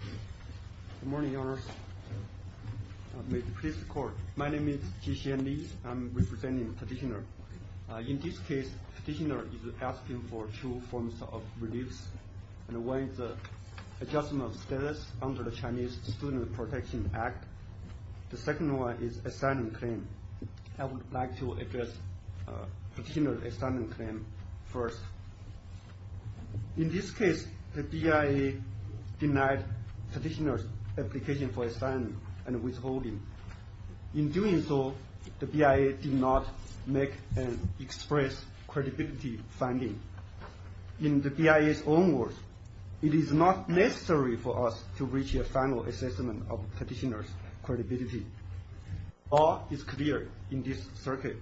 Good morning, your honors. May the peace be with you. My name is Jixian Li. I'm representing the petitioner. In this case, the petitioner is asking for two forms of reliefs. One is an adjustment of status under the Chinese Student Protection Act. The second one is an asylum claim. I would like to address the petitioner's asylum claim first. In this case, the BIA denied the petitioner's application for asylum and withholding. In doing so, the BIA did not make an express credibility finding. In the BIA's own words, it is not necessary for us to reach a final assessment of the petitioner's credibility. All is clear in this circuit.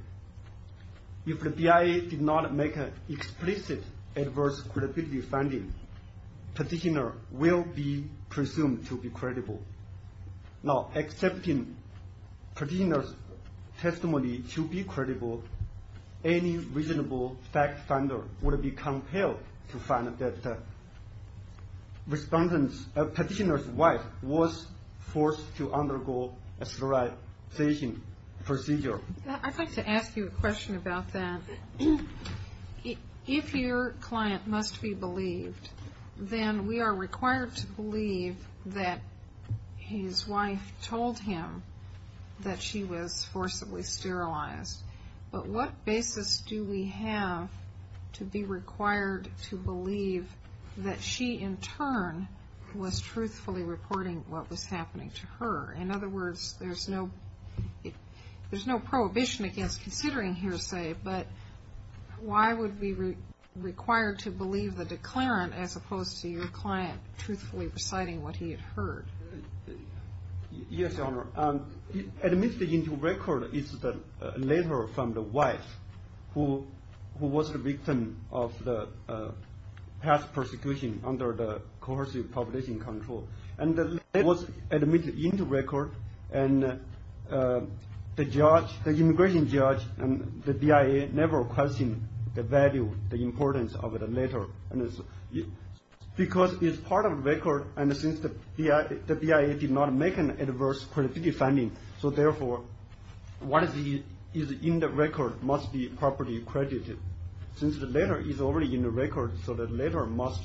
If the BIA did not make an explicit adverse credibility finding, the petitioner will be presumed to be credible. Now, accepting the petitioner's testimony to be credible, any reasonable fact finder would be compelled to find that the petitioner's wife was forced to undergo a sterilization procedure. I'd like to ask you a question about that. If your client must be believed, then we are required to believe that his wife told him that she was forcibly sterilized. But what basis do we have to be required to believe that she, in turn, was truthfully reporting what was happening to her? In other words, there's no prohibition against considering hearsay, but why would we be required to believe the declarant as opposed to your client truthfully reciting what he had heard? Yes, Your Honor. Admitted into record is the letter from the wife who was the victim of the past persecution under the coercive population control. And the letter was admitted into record, and the judge, the immigration judge, and the BIA never questioned the value, the importance of the letter. Because it's part of the record, and since the BIA did not make an adverse credibility finding, so therefore, what is in the record must be properly credited. Since the letter is already in the record, so the letter must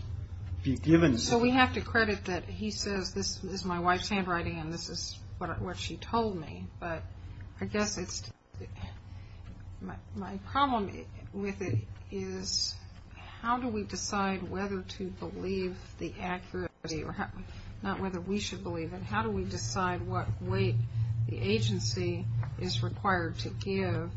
be given. So we have to credit that he says, this is my wife's handwriting, and this is what she told me. But I guess it's, my problem with it is how do we decide whether to believe the accuracy, not whether we should believe it, how do we decide what weight the agency is required to give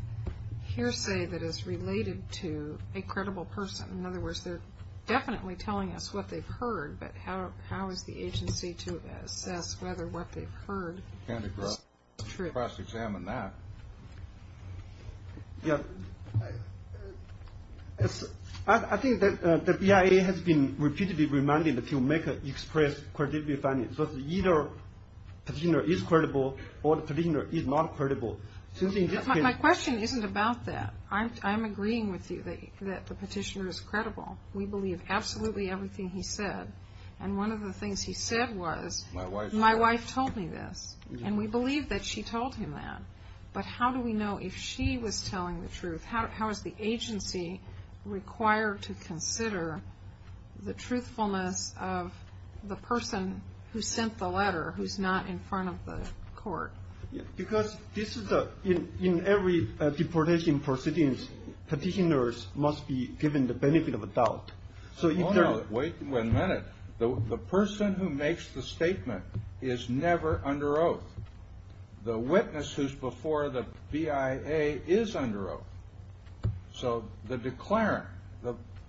hearsay that is related to a credible person? In other words, they're definitely telling us what they've heard, but how is the agency to assess whether what they've heard is true? So we have to cross-examine that. Yes. I think that the BIA has been repeatedly reminded to make an express credibility finding. So it's either the petitioner is credible or the petitioner is not credible. My question isn't about that. I'm agreeing with you that the petitioner is credible. We believe absolutely everything he said. And one of the things he said was, my wife told me this. And we believe that she told him that. But how do we know if she was telling the truth? How is the agency required to consider the truthfulness of the person who sent the letter who's not in front of the court? Because this is a, in every deportation proceedings, petitioners must be given the benefit of a doubt. Wait a minute. The person who makes the statement is never under oath. The witness who's before the BIA is under oath. So the declarant,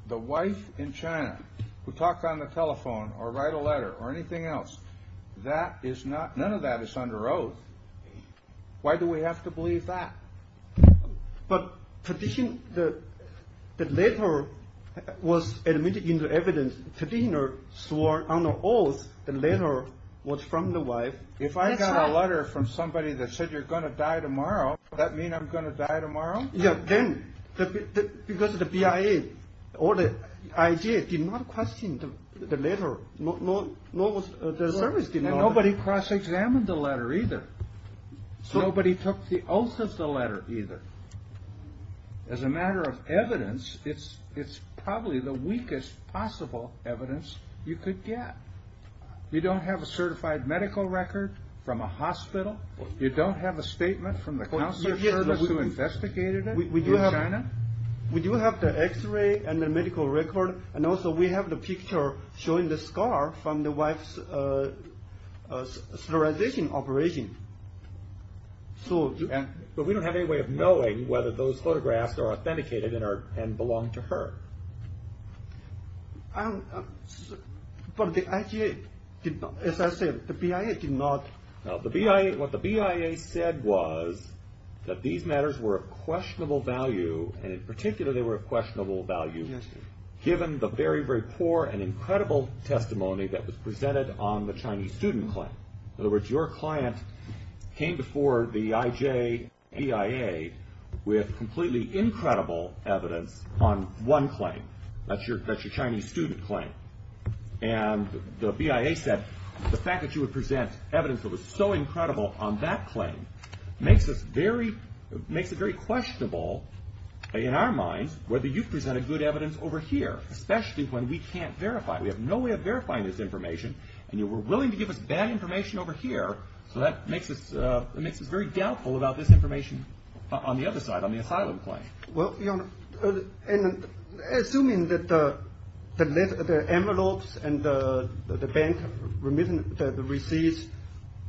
the wife in China who talked on the telephone or write a letter or anything else, that is not, none of that is under oath. Why do we have to believe that? But petition, the letter was admitted into evidence. Petitioner swore under oath the letter was from the wife. If I got a letter from somebody that said you're going to die tomorrow, does that mean I'm going to die tomorrow? Yeah, then, because the BIA or the IJ did not question the letter, nor was the service. And nobody cross-examined the letter either. Nobody took the oath of the letter either. As a matter of evidence, it's probably the weakest possible evidence you could get. You don't have a certified medical record from a hospital. You don't have a statement from the counselor service who investigated it in China. We do have the x-ray and the medical record. And also we have the picture showing the scar from the wife's sterilization operation. But we don't have any way of knowing whether those photographs are authenticated and belong to her. But the IJ did not, as I said, the BIA did not. Now, what the BIA said was that these matters were of questionable value, and in particular they were of questionable value given the very, very poor and incredible testimony that was presented on the Chinese student claim. In other words, your client came before the IJ and BIA with completely incredible evidence on one claim. That's your Chinese student claim. And the BIA said the fact that you would present evidence that was so incredible on that claim makes it very questionable in our minds whether you've presented good evidence over here, especially when we can't verify it. We have no way of verifying this information, and you were willing to give us bad information over here, so that makes us very doubtful about this information on the other side, on the asylum claim. Well, Your Honor, assuming that the envelopes and the bank receipts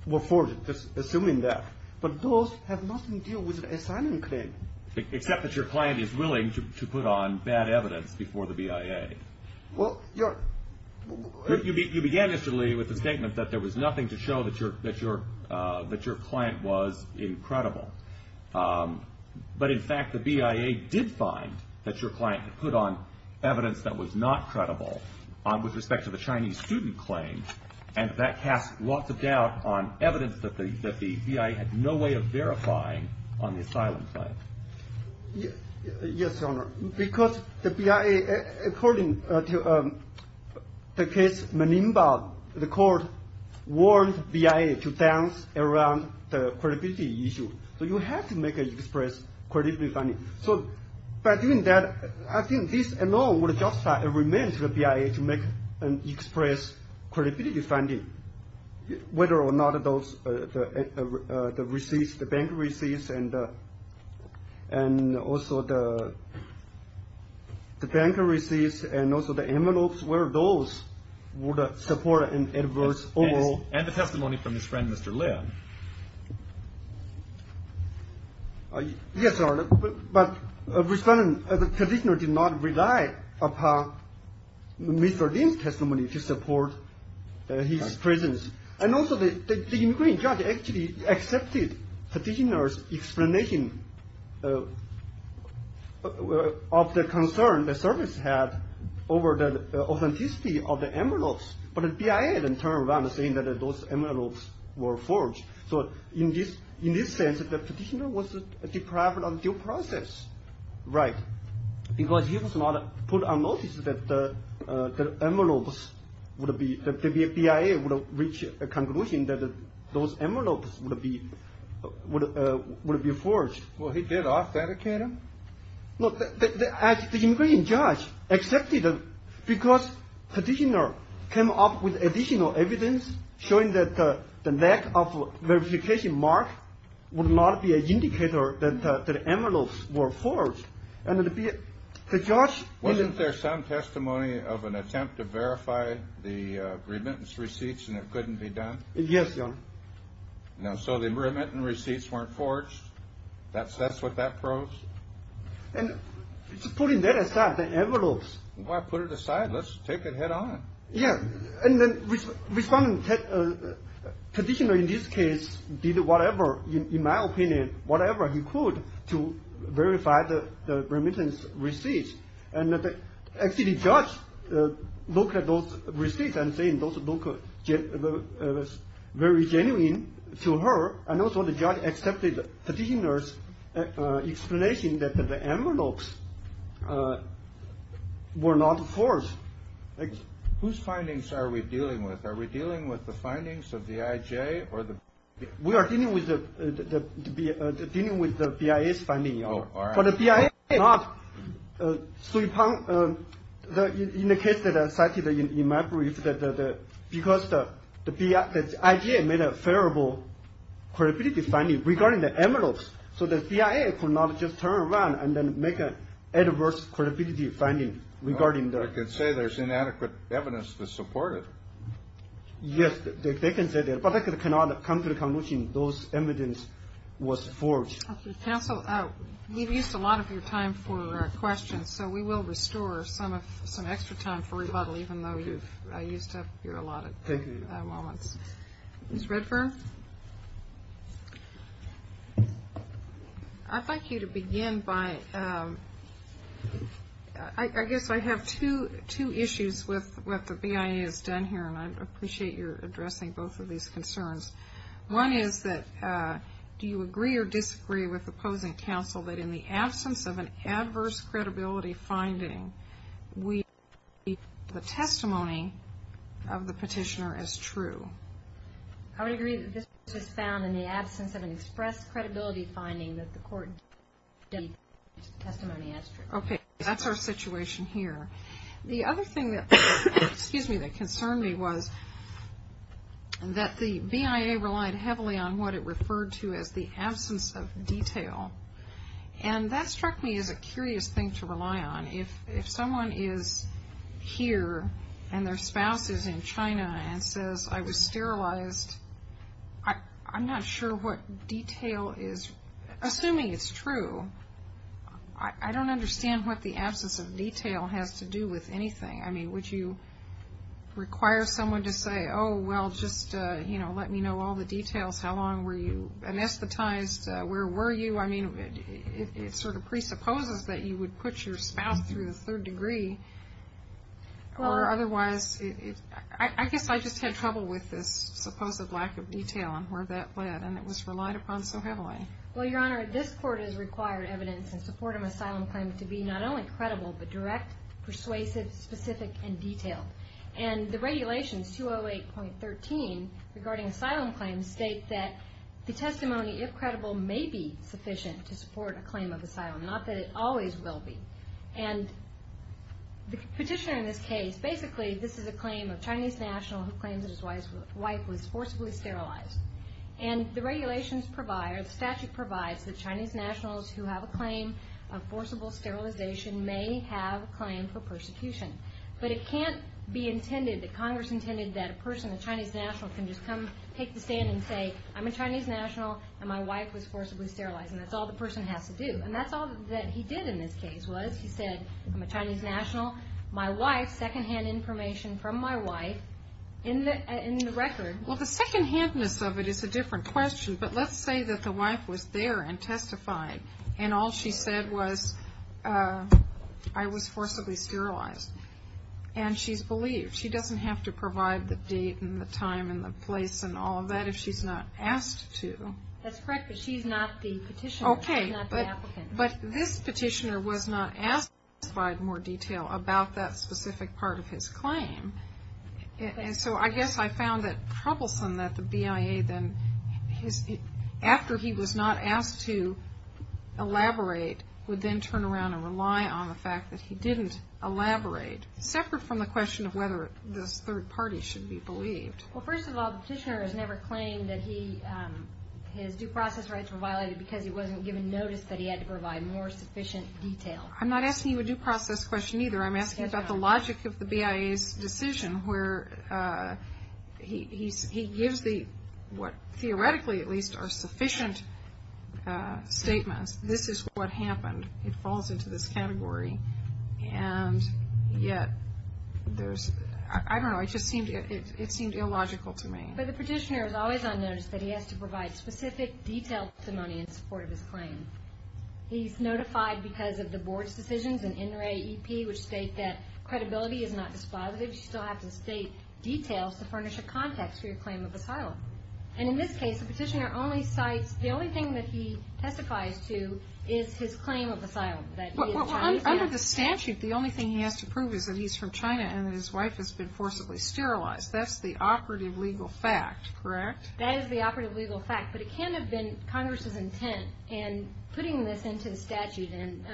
were forged, just assuming that, but those have nothing to do with the asylum claim. Except that your client is willing to put on bad evidence before the BIA. Well, Your Honor. You began, Mr. Li, with the statement that there was nothing to show that your client was incredible. But, in fact, the BIA did find that your client had put on evidence that was not credible with respect to the Chinese student claim, and that cast lots of doubt on evidence that the BIA had no way of verifying on the asylum claim. Yes, Your Honor. Because the BIA, according to the case Manimba, the court warned BIA to dance around the credibility issue. So you have to make an express credibility finding. So by doing that, I think this alone would justify a remand to the BIA to make an express credibility finding, whether or not the receipts, the bank receipts, and also the bank receipts and also the envelopes, whether those would support an adverse overall. And the testimony from his friend, Mr. Lin. Yes, Your Honor. But, respondent, the petitioner did not rely upon Mr. Lin's testimony to support his presence. And also the inquiry judge actually accepted the petitioner's explanation of the concern the service had over the authenticity of the envelopes. But the BIA then turned around saying that those envelopes were forged. So in this sense, the petitioner was deprived of due process. Right. Because he was not put on notice that the BIA would reach a conclusion that those envelopes would be forged. Well, he did ask that, Akira. Look, the inquiry judge accepted because petitioner came up with additional evidence showing that the lack of verification mark would not be an indicator that the envelopes were forged. And the BIA, the judge. Wasn't there some testimony of an attempt to verify the remittance receipts and it couldn't be done? Yes, Your Honor. So the remittance receipts weren't forged? That's what that proves? And putting that aside, the envelopes. Why put it aside? Let's take it head on. Yeah. And then respondent, petitioner in this case, did whatever, in my opinion, whatever he could to verify the remittance receipts. And actually, the judge looked at those receipts and saying those look very genuine to her. And also, the judge accepted the petitioner's explanation that the envelopes were not forged. Whose findings are we dealing with? Are we dealing with the findings of the IJ or the BIA? We are dealing with the BIA's findings, Your Honor. But the BIA did not. In the case that I cited in my brief, because the IJ made a favorable credibility finding regarding the envelopes, so the BIA could not just turn around and then make an adverse credibility finding regarding the... I can say there's inadequate evidence to support it. Yes, they can say that. But that cannot come to the conclusion those evidence was forged. Counsel, we've used a lot of your time for questions, so we will restore some extra time for rebuttal, even though I used up your allotted moments. Ms. Redfern? I'd like you to begin by... I guess I have two issues with what the BIA has done here, and I appreciate your addressing both of these concerns. One is that, do you agree or disagree with the opposing counsel that in the absence of an adverse credibility finding, we... the testimony of the petitioner as true? I would agree that this was found in the absence of an expressed credibility finding that the court... testimony as true. Okay, that's our situation here. The other thing that concerned me was that the BIA relied heavily on what it referred to as the absence of detail. And that struck me as a curious thing to rely on. If someone is here and their spouse is in China and says, I was sterilized, I'm not sure what detail is... I mean, would you require someone to say, oh, well, just, you know, let me know all the details. How long were you anesthetized? Where were you? I mean, it sort of presupposes that you would put your spouse through the third degree, or otherwise... I guess I just had trouble with this supposed lack of detail and where that led, and it was relied upon so heavily. Well, Your Honor, this Court has required evidence in support of an asylum claim to be not only credible, but direct, persuasive, specific, and detailed. And the regulations, 208.13, regarding asylum claims, state that the testimony, if credible, may be sufficient to support a claim of asylum. Not that it always will be. And the petitioner in this case, basically, this is a claim of a Chinese national who claims that his wife was forcibly sterilized. And the regulations provide, or the statute provides, that Chinese nationals who have a claim of forcible sterilization may have a claim for persecution. But it can't be intended, that Congress intended, that a person, a Chinese national, can just come, take the stand, and say, I'm a Chinese national, and my wife was forcibly sterilized, and that's all the person has to do. And that's all that he did in this case, was he said, I'm a Chinese national, my wife, secondhand information from my wife, in the record... Well, the secondhandness of it is a different question. But let's say that the wife was there and testified, and all she said was, I was forcibly sterilized. And she's believed. She doesn't have to provide the date and the time and the place and all of that if she's not asked to. That's correct, but she's not the petitioner. Okay. She's not the applicant. But this petitioner was not asked to provide more detail about that specific part of his claim. And so I guess I found it troublesome that the BIA then, after he was not asked to elaborate, would then turn around and rely on the fact that he didn't elaborate, separate from the question of whether this third party should be believed. Well, first of all, the petitioner has never claimed that his due process rights were violated because he wasn't given notice that he had to provide more sufficient detail. I'm not asking you a due process question either. I'm asking about the logic of the BIA's decision where he gives what theoretically, at least, are sufficient statements. This is what happened. It falls into this category. And yet there's, I don't know, it just seemed illogical to me. But the petitioner is always on notice that he has to provide specific, detailed testimony in support of his claim. He's notified because of the board's decisions and NRAEP, which state that credibility is not dispositive. You still have to state details to furnish a context for your claim of asylum. And in this case, the petitioner only cites, the only thing that he testifies to is his claim of asylum, that he is Chinese. Well, under the statute, the only thing he has to prove is that he's from China and that his wife has been forcibly sterilized. That's the operative legal fact, correct? That is the operative legal fact. But it can have been Congress's intent in putting this into the statute and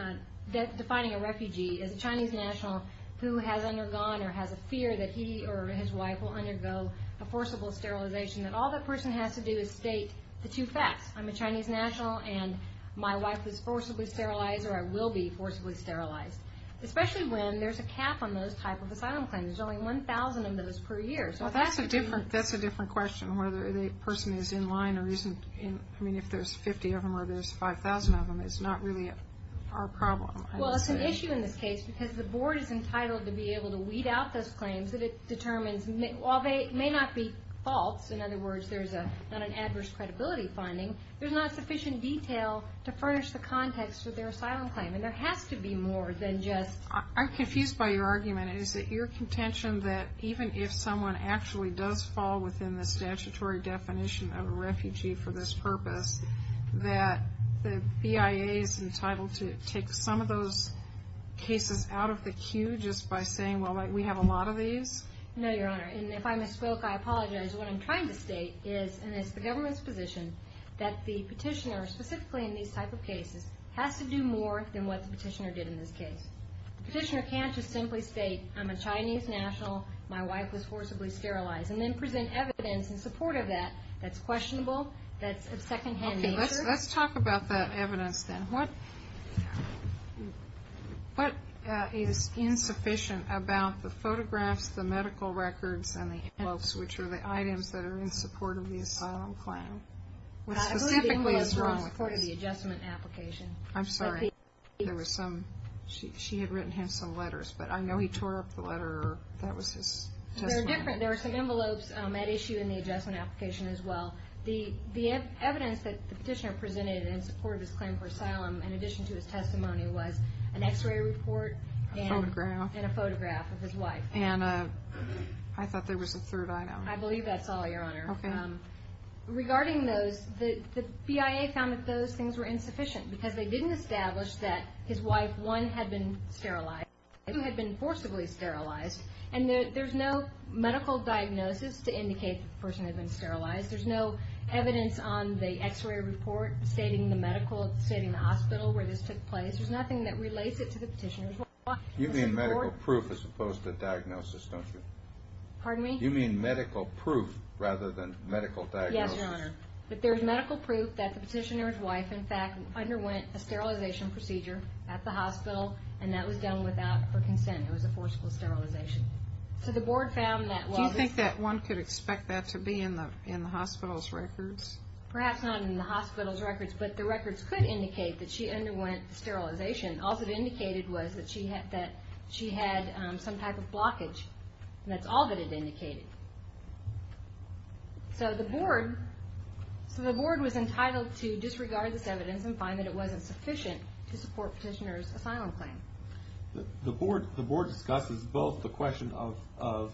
defining a refugee as a Chinese national who has undergone or has a fear that he or his wife will undergo a forcible sterilization, that all that person has to do is state the two facts, I'm a Chinese national and my wife was forcibly sterilized or I will be forcibly sterilized, especially when there's a cap on those type of asylum claims. There's only 1,000 of those per year. Well, that's a different question, whether the person is in line or isn't. I mean, if there's 50 of them or there's 5,000 of them, it's not really our problem. Well, it's an issue in this case because the board is entitled to be able to weed out those claims that it determines, while they may not be false, in other words, there's not an adverse credibility finding, there's not sufficient detail to furnish the context of their asylum claim. And there has to be more than just. I'm confused by your argument. Is it your contention that even if someone actually does fall within the statutory definition of a refugee for this purpose, that the BIA is entitled to take some of those cases out of the queue just by saying, well, we have a lot of these? No, Your Honor, and if I misspoke, I apologize. What I'm trying to state is, and it's the government's position, that the petitioner, specifically in these type of cases, has to do more than what the petitioner did in this case. The petitioner can't just simply state, I'm a Chinese national, my wife was forcibly sterilized, and then present evidence in support of that that's questionable, that's of second-hand nature. Okay, let's talk about that evidence then. What is insufficient about the photographs, the medical records, and the envelopes, which are the items that are in support of the asylum claim? What specifically is wrong with this? I believe the envelopes were in support of the adjustment application. I'm sorry. She had written him some letters, but I know he tore up the letter. That was his testimony. There are some envelopes at issue in the adjustment application as well. The evidence that the petitioner presented in support of his claim for asylum, in addition to his testimony, was an x-ray report and a photograph of his wife. I thought there was a third item. I believe that's all, Your Honor. Regarding those, the BIA found that those things were insufficient because they didn't establish that his wife, one, had been sterilized, two, had been forcibly sterilized, and there's no medical diagnosis to indicate the person had been sterilized. There's no evidence on the x-ray report stating the hospital where this took place. There's nothing that relates it to the petitioner's wife. You mean medical proof as opposed to diagnosis, don't you? Pardon me? You mean medical proof rather than medical diagnosis. Yes, Your Honor. But there's medical proof that the petitioner's wife, in fact, underwent a sterilization procedure at the hospital, and that was done without her consent. It was a forcible sterilization. Do you think that one could expect that to be in the hospital's records? Perhaps not in the hospital's records, but the records could indicate that she underwent sterilization. All that it indicated was that she had some type of blockage, and that's all that it indicated. So the board was entitled to disregard this evidence and find that it wasn't sufficient to support petitioner's asylum claim. The board discusses both the question of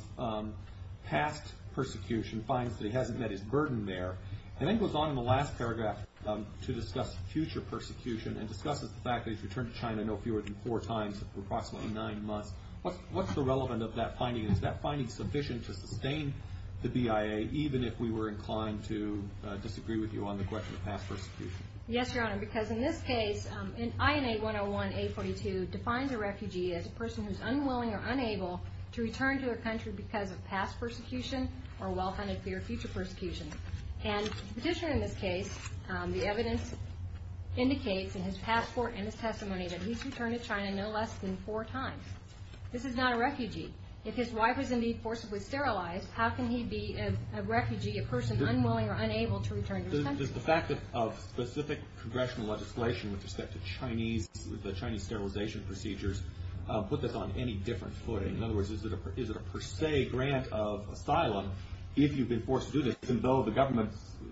past persecution, finds that he hasn't met his burden there, and then goes on in the last paragraph to discuss future persecution and discusses the fact that he's returned to China no fewer than four times for approximately nine months. What's the relevance of that finding? Is that finding sufficient to sustain the BIA, even if we were inclined to disagree with you on the question of past persecution? Yes, Your Honor, because in this case, INA 101-A42 defines a refugee as a person who is unwilling or unable to return to their country because of past persecution or well-planned fear of future persecution. And the petitioner in this case, the evidence indicates in his passport and his testimony that he's returned to China no less than four times. This is not a refugee. If his wife was indeed forcibly sterilized, how can he be a refugee, a person unwilling or unable to return to his country? Does the fact of specific congressional legislation with respect to the Chinese sterilization procedures put this on any different footing? In other words, is it a per se grant of asylum if you've been forced to do this, even though the government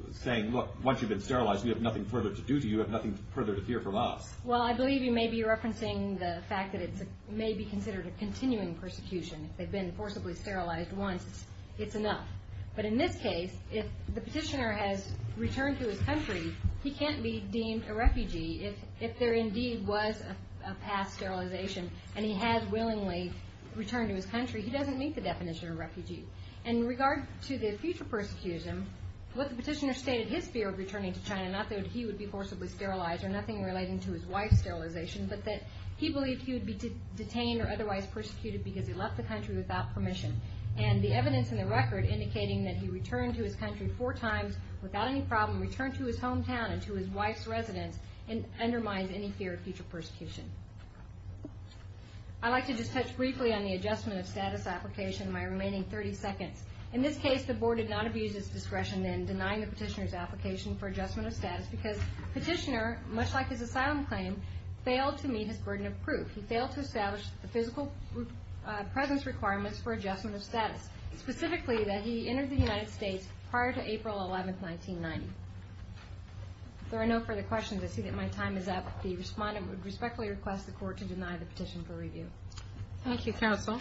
is saying, look, once you've been sterilized, you have nothing further to do, you have nothing further to hear from us? Well, I believe you may be referencing the fact that it may be considered a continuing persecution if they've been forcibly sterilized once. It's enough. But in this case, if the petitioner has returned to his country, he can't be deemed a refugee if there indeed was a past sterilization and he has willingly returned to his country. He doesn't meet the definition of a refugee. And in regard to the future persecution, what the petitioner stated, his fear of returning to China, not that he would be forcibly sterilized or nothing relating to his wife's sterilization, but that he believed he would be detained or otherwise persecuted because he left the country without permission. And the evidence in the record indicating that he returned to his country four times without any problem, returned to his hometown and to his wife's residence, undermines any fear of future persecution. I'd like to just touch briefly on the adjustment of status application in my remaining 30 seconds. In this case, the Board did not abuse its discretion in denying the petitioner's application for adjustment of status because the petitioner, much like his asylum claim, failed to meet his burden of proof. He failed to establish the physical presence requirements for adjustment of status, specifically that he entered the United States prior to April 11, 1990. If there are no further questions, I see that my time is up. The respondent would respectfully request the Court to deny the petition for review. Thank you, counsel.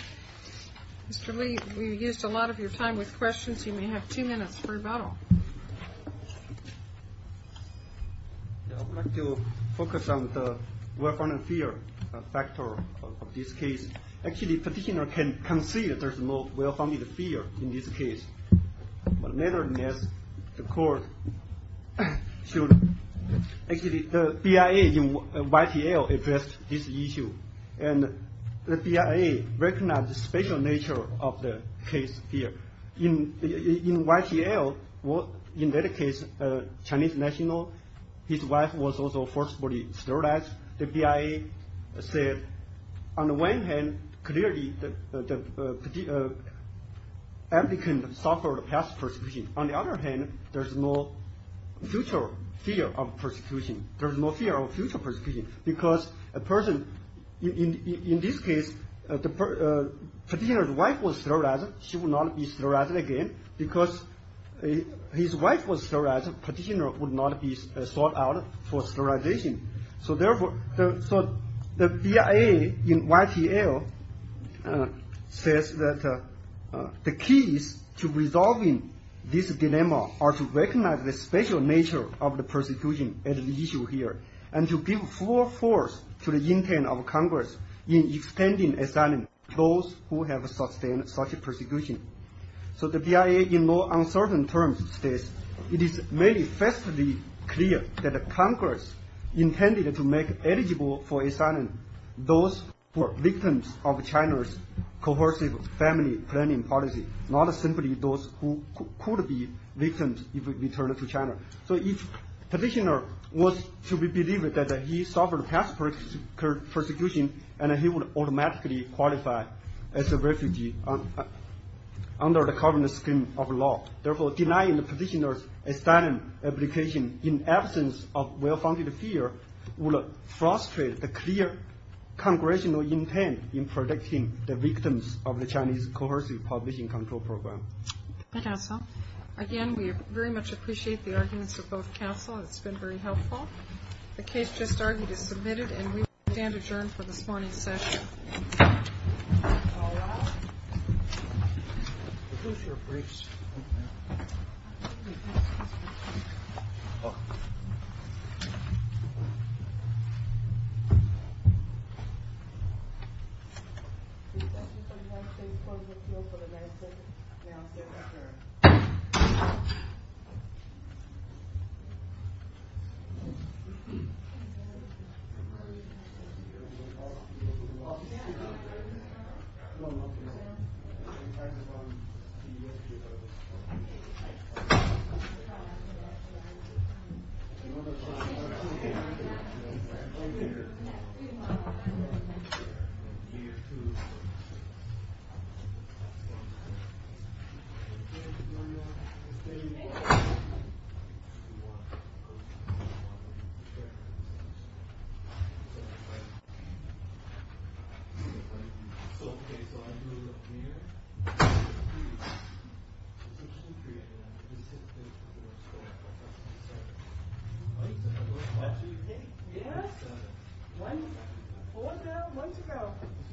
Mr. Li, we used a lot of your time with questions. You may have two minutes for rebuttal. I'd like to focus on the well-founded fear factor of this case. Actually, petitioner can see that there's no well-founded fear in this case. Nevertheless, the Court should— Actually, the BIA in YTL addressed this issue, and the BIA recognized the special nature of the case here. In YTL, in that case, a Chinese national, his wife was also forcibly sterilized. The BIA said, on the one hand, clearly the applicant suffered past persecution. On the other hand, there's no future fear of persecution. There's no fear of future persecution because a person— In this case, the petitioner's wife was sterilized. She will not be sterilized again. Because his wife was sterilized, petitioner would not be sought out for sterilization. So therefore, the BIA in YTL says that the keys to resolving this dilemma are to recognize the special nature of the persecution at the issue here, and to give full force to the intent of Congress in extending asylum to those who have sustained such persecution. So the BIA in more uncertain terms states, it is manifestly clear that Congress intended to make eligible for asylum those who are victims of China's coercive family planning policy, not simply those who could be victims if returned to China. So if petitioner was to be believed that he suffered past persecution, he would automatically qualify as a refugee under the current scheme of law. Therefore, denying the petitioner's asylum application in absence of well-founded fear would frustrate the clear congressional intent in protecting the victims of the Chinese coercive population control program. Thank you, counsel. Again, we very much appreciate the arguments of both counsel. It's been very helpful. The case just argued is submitted, and we will stand adjourned for this morning's session. All rise. Please use your briefs. This session is adjourned. Please close the field for the next round of hearings. Thank you. Thank you. Yes. One. Hold now. One to go.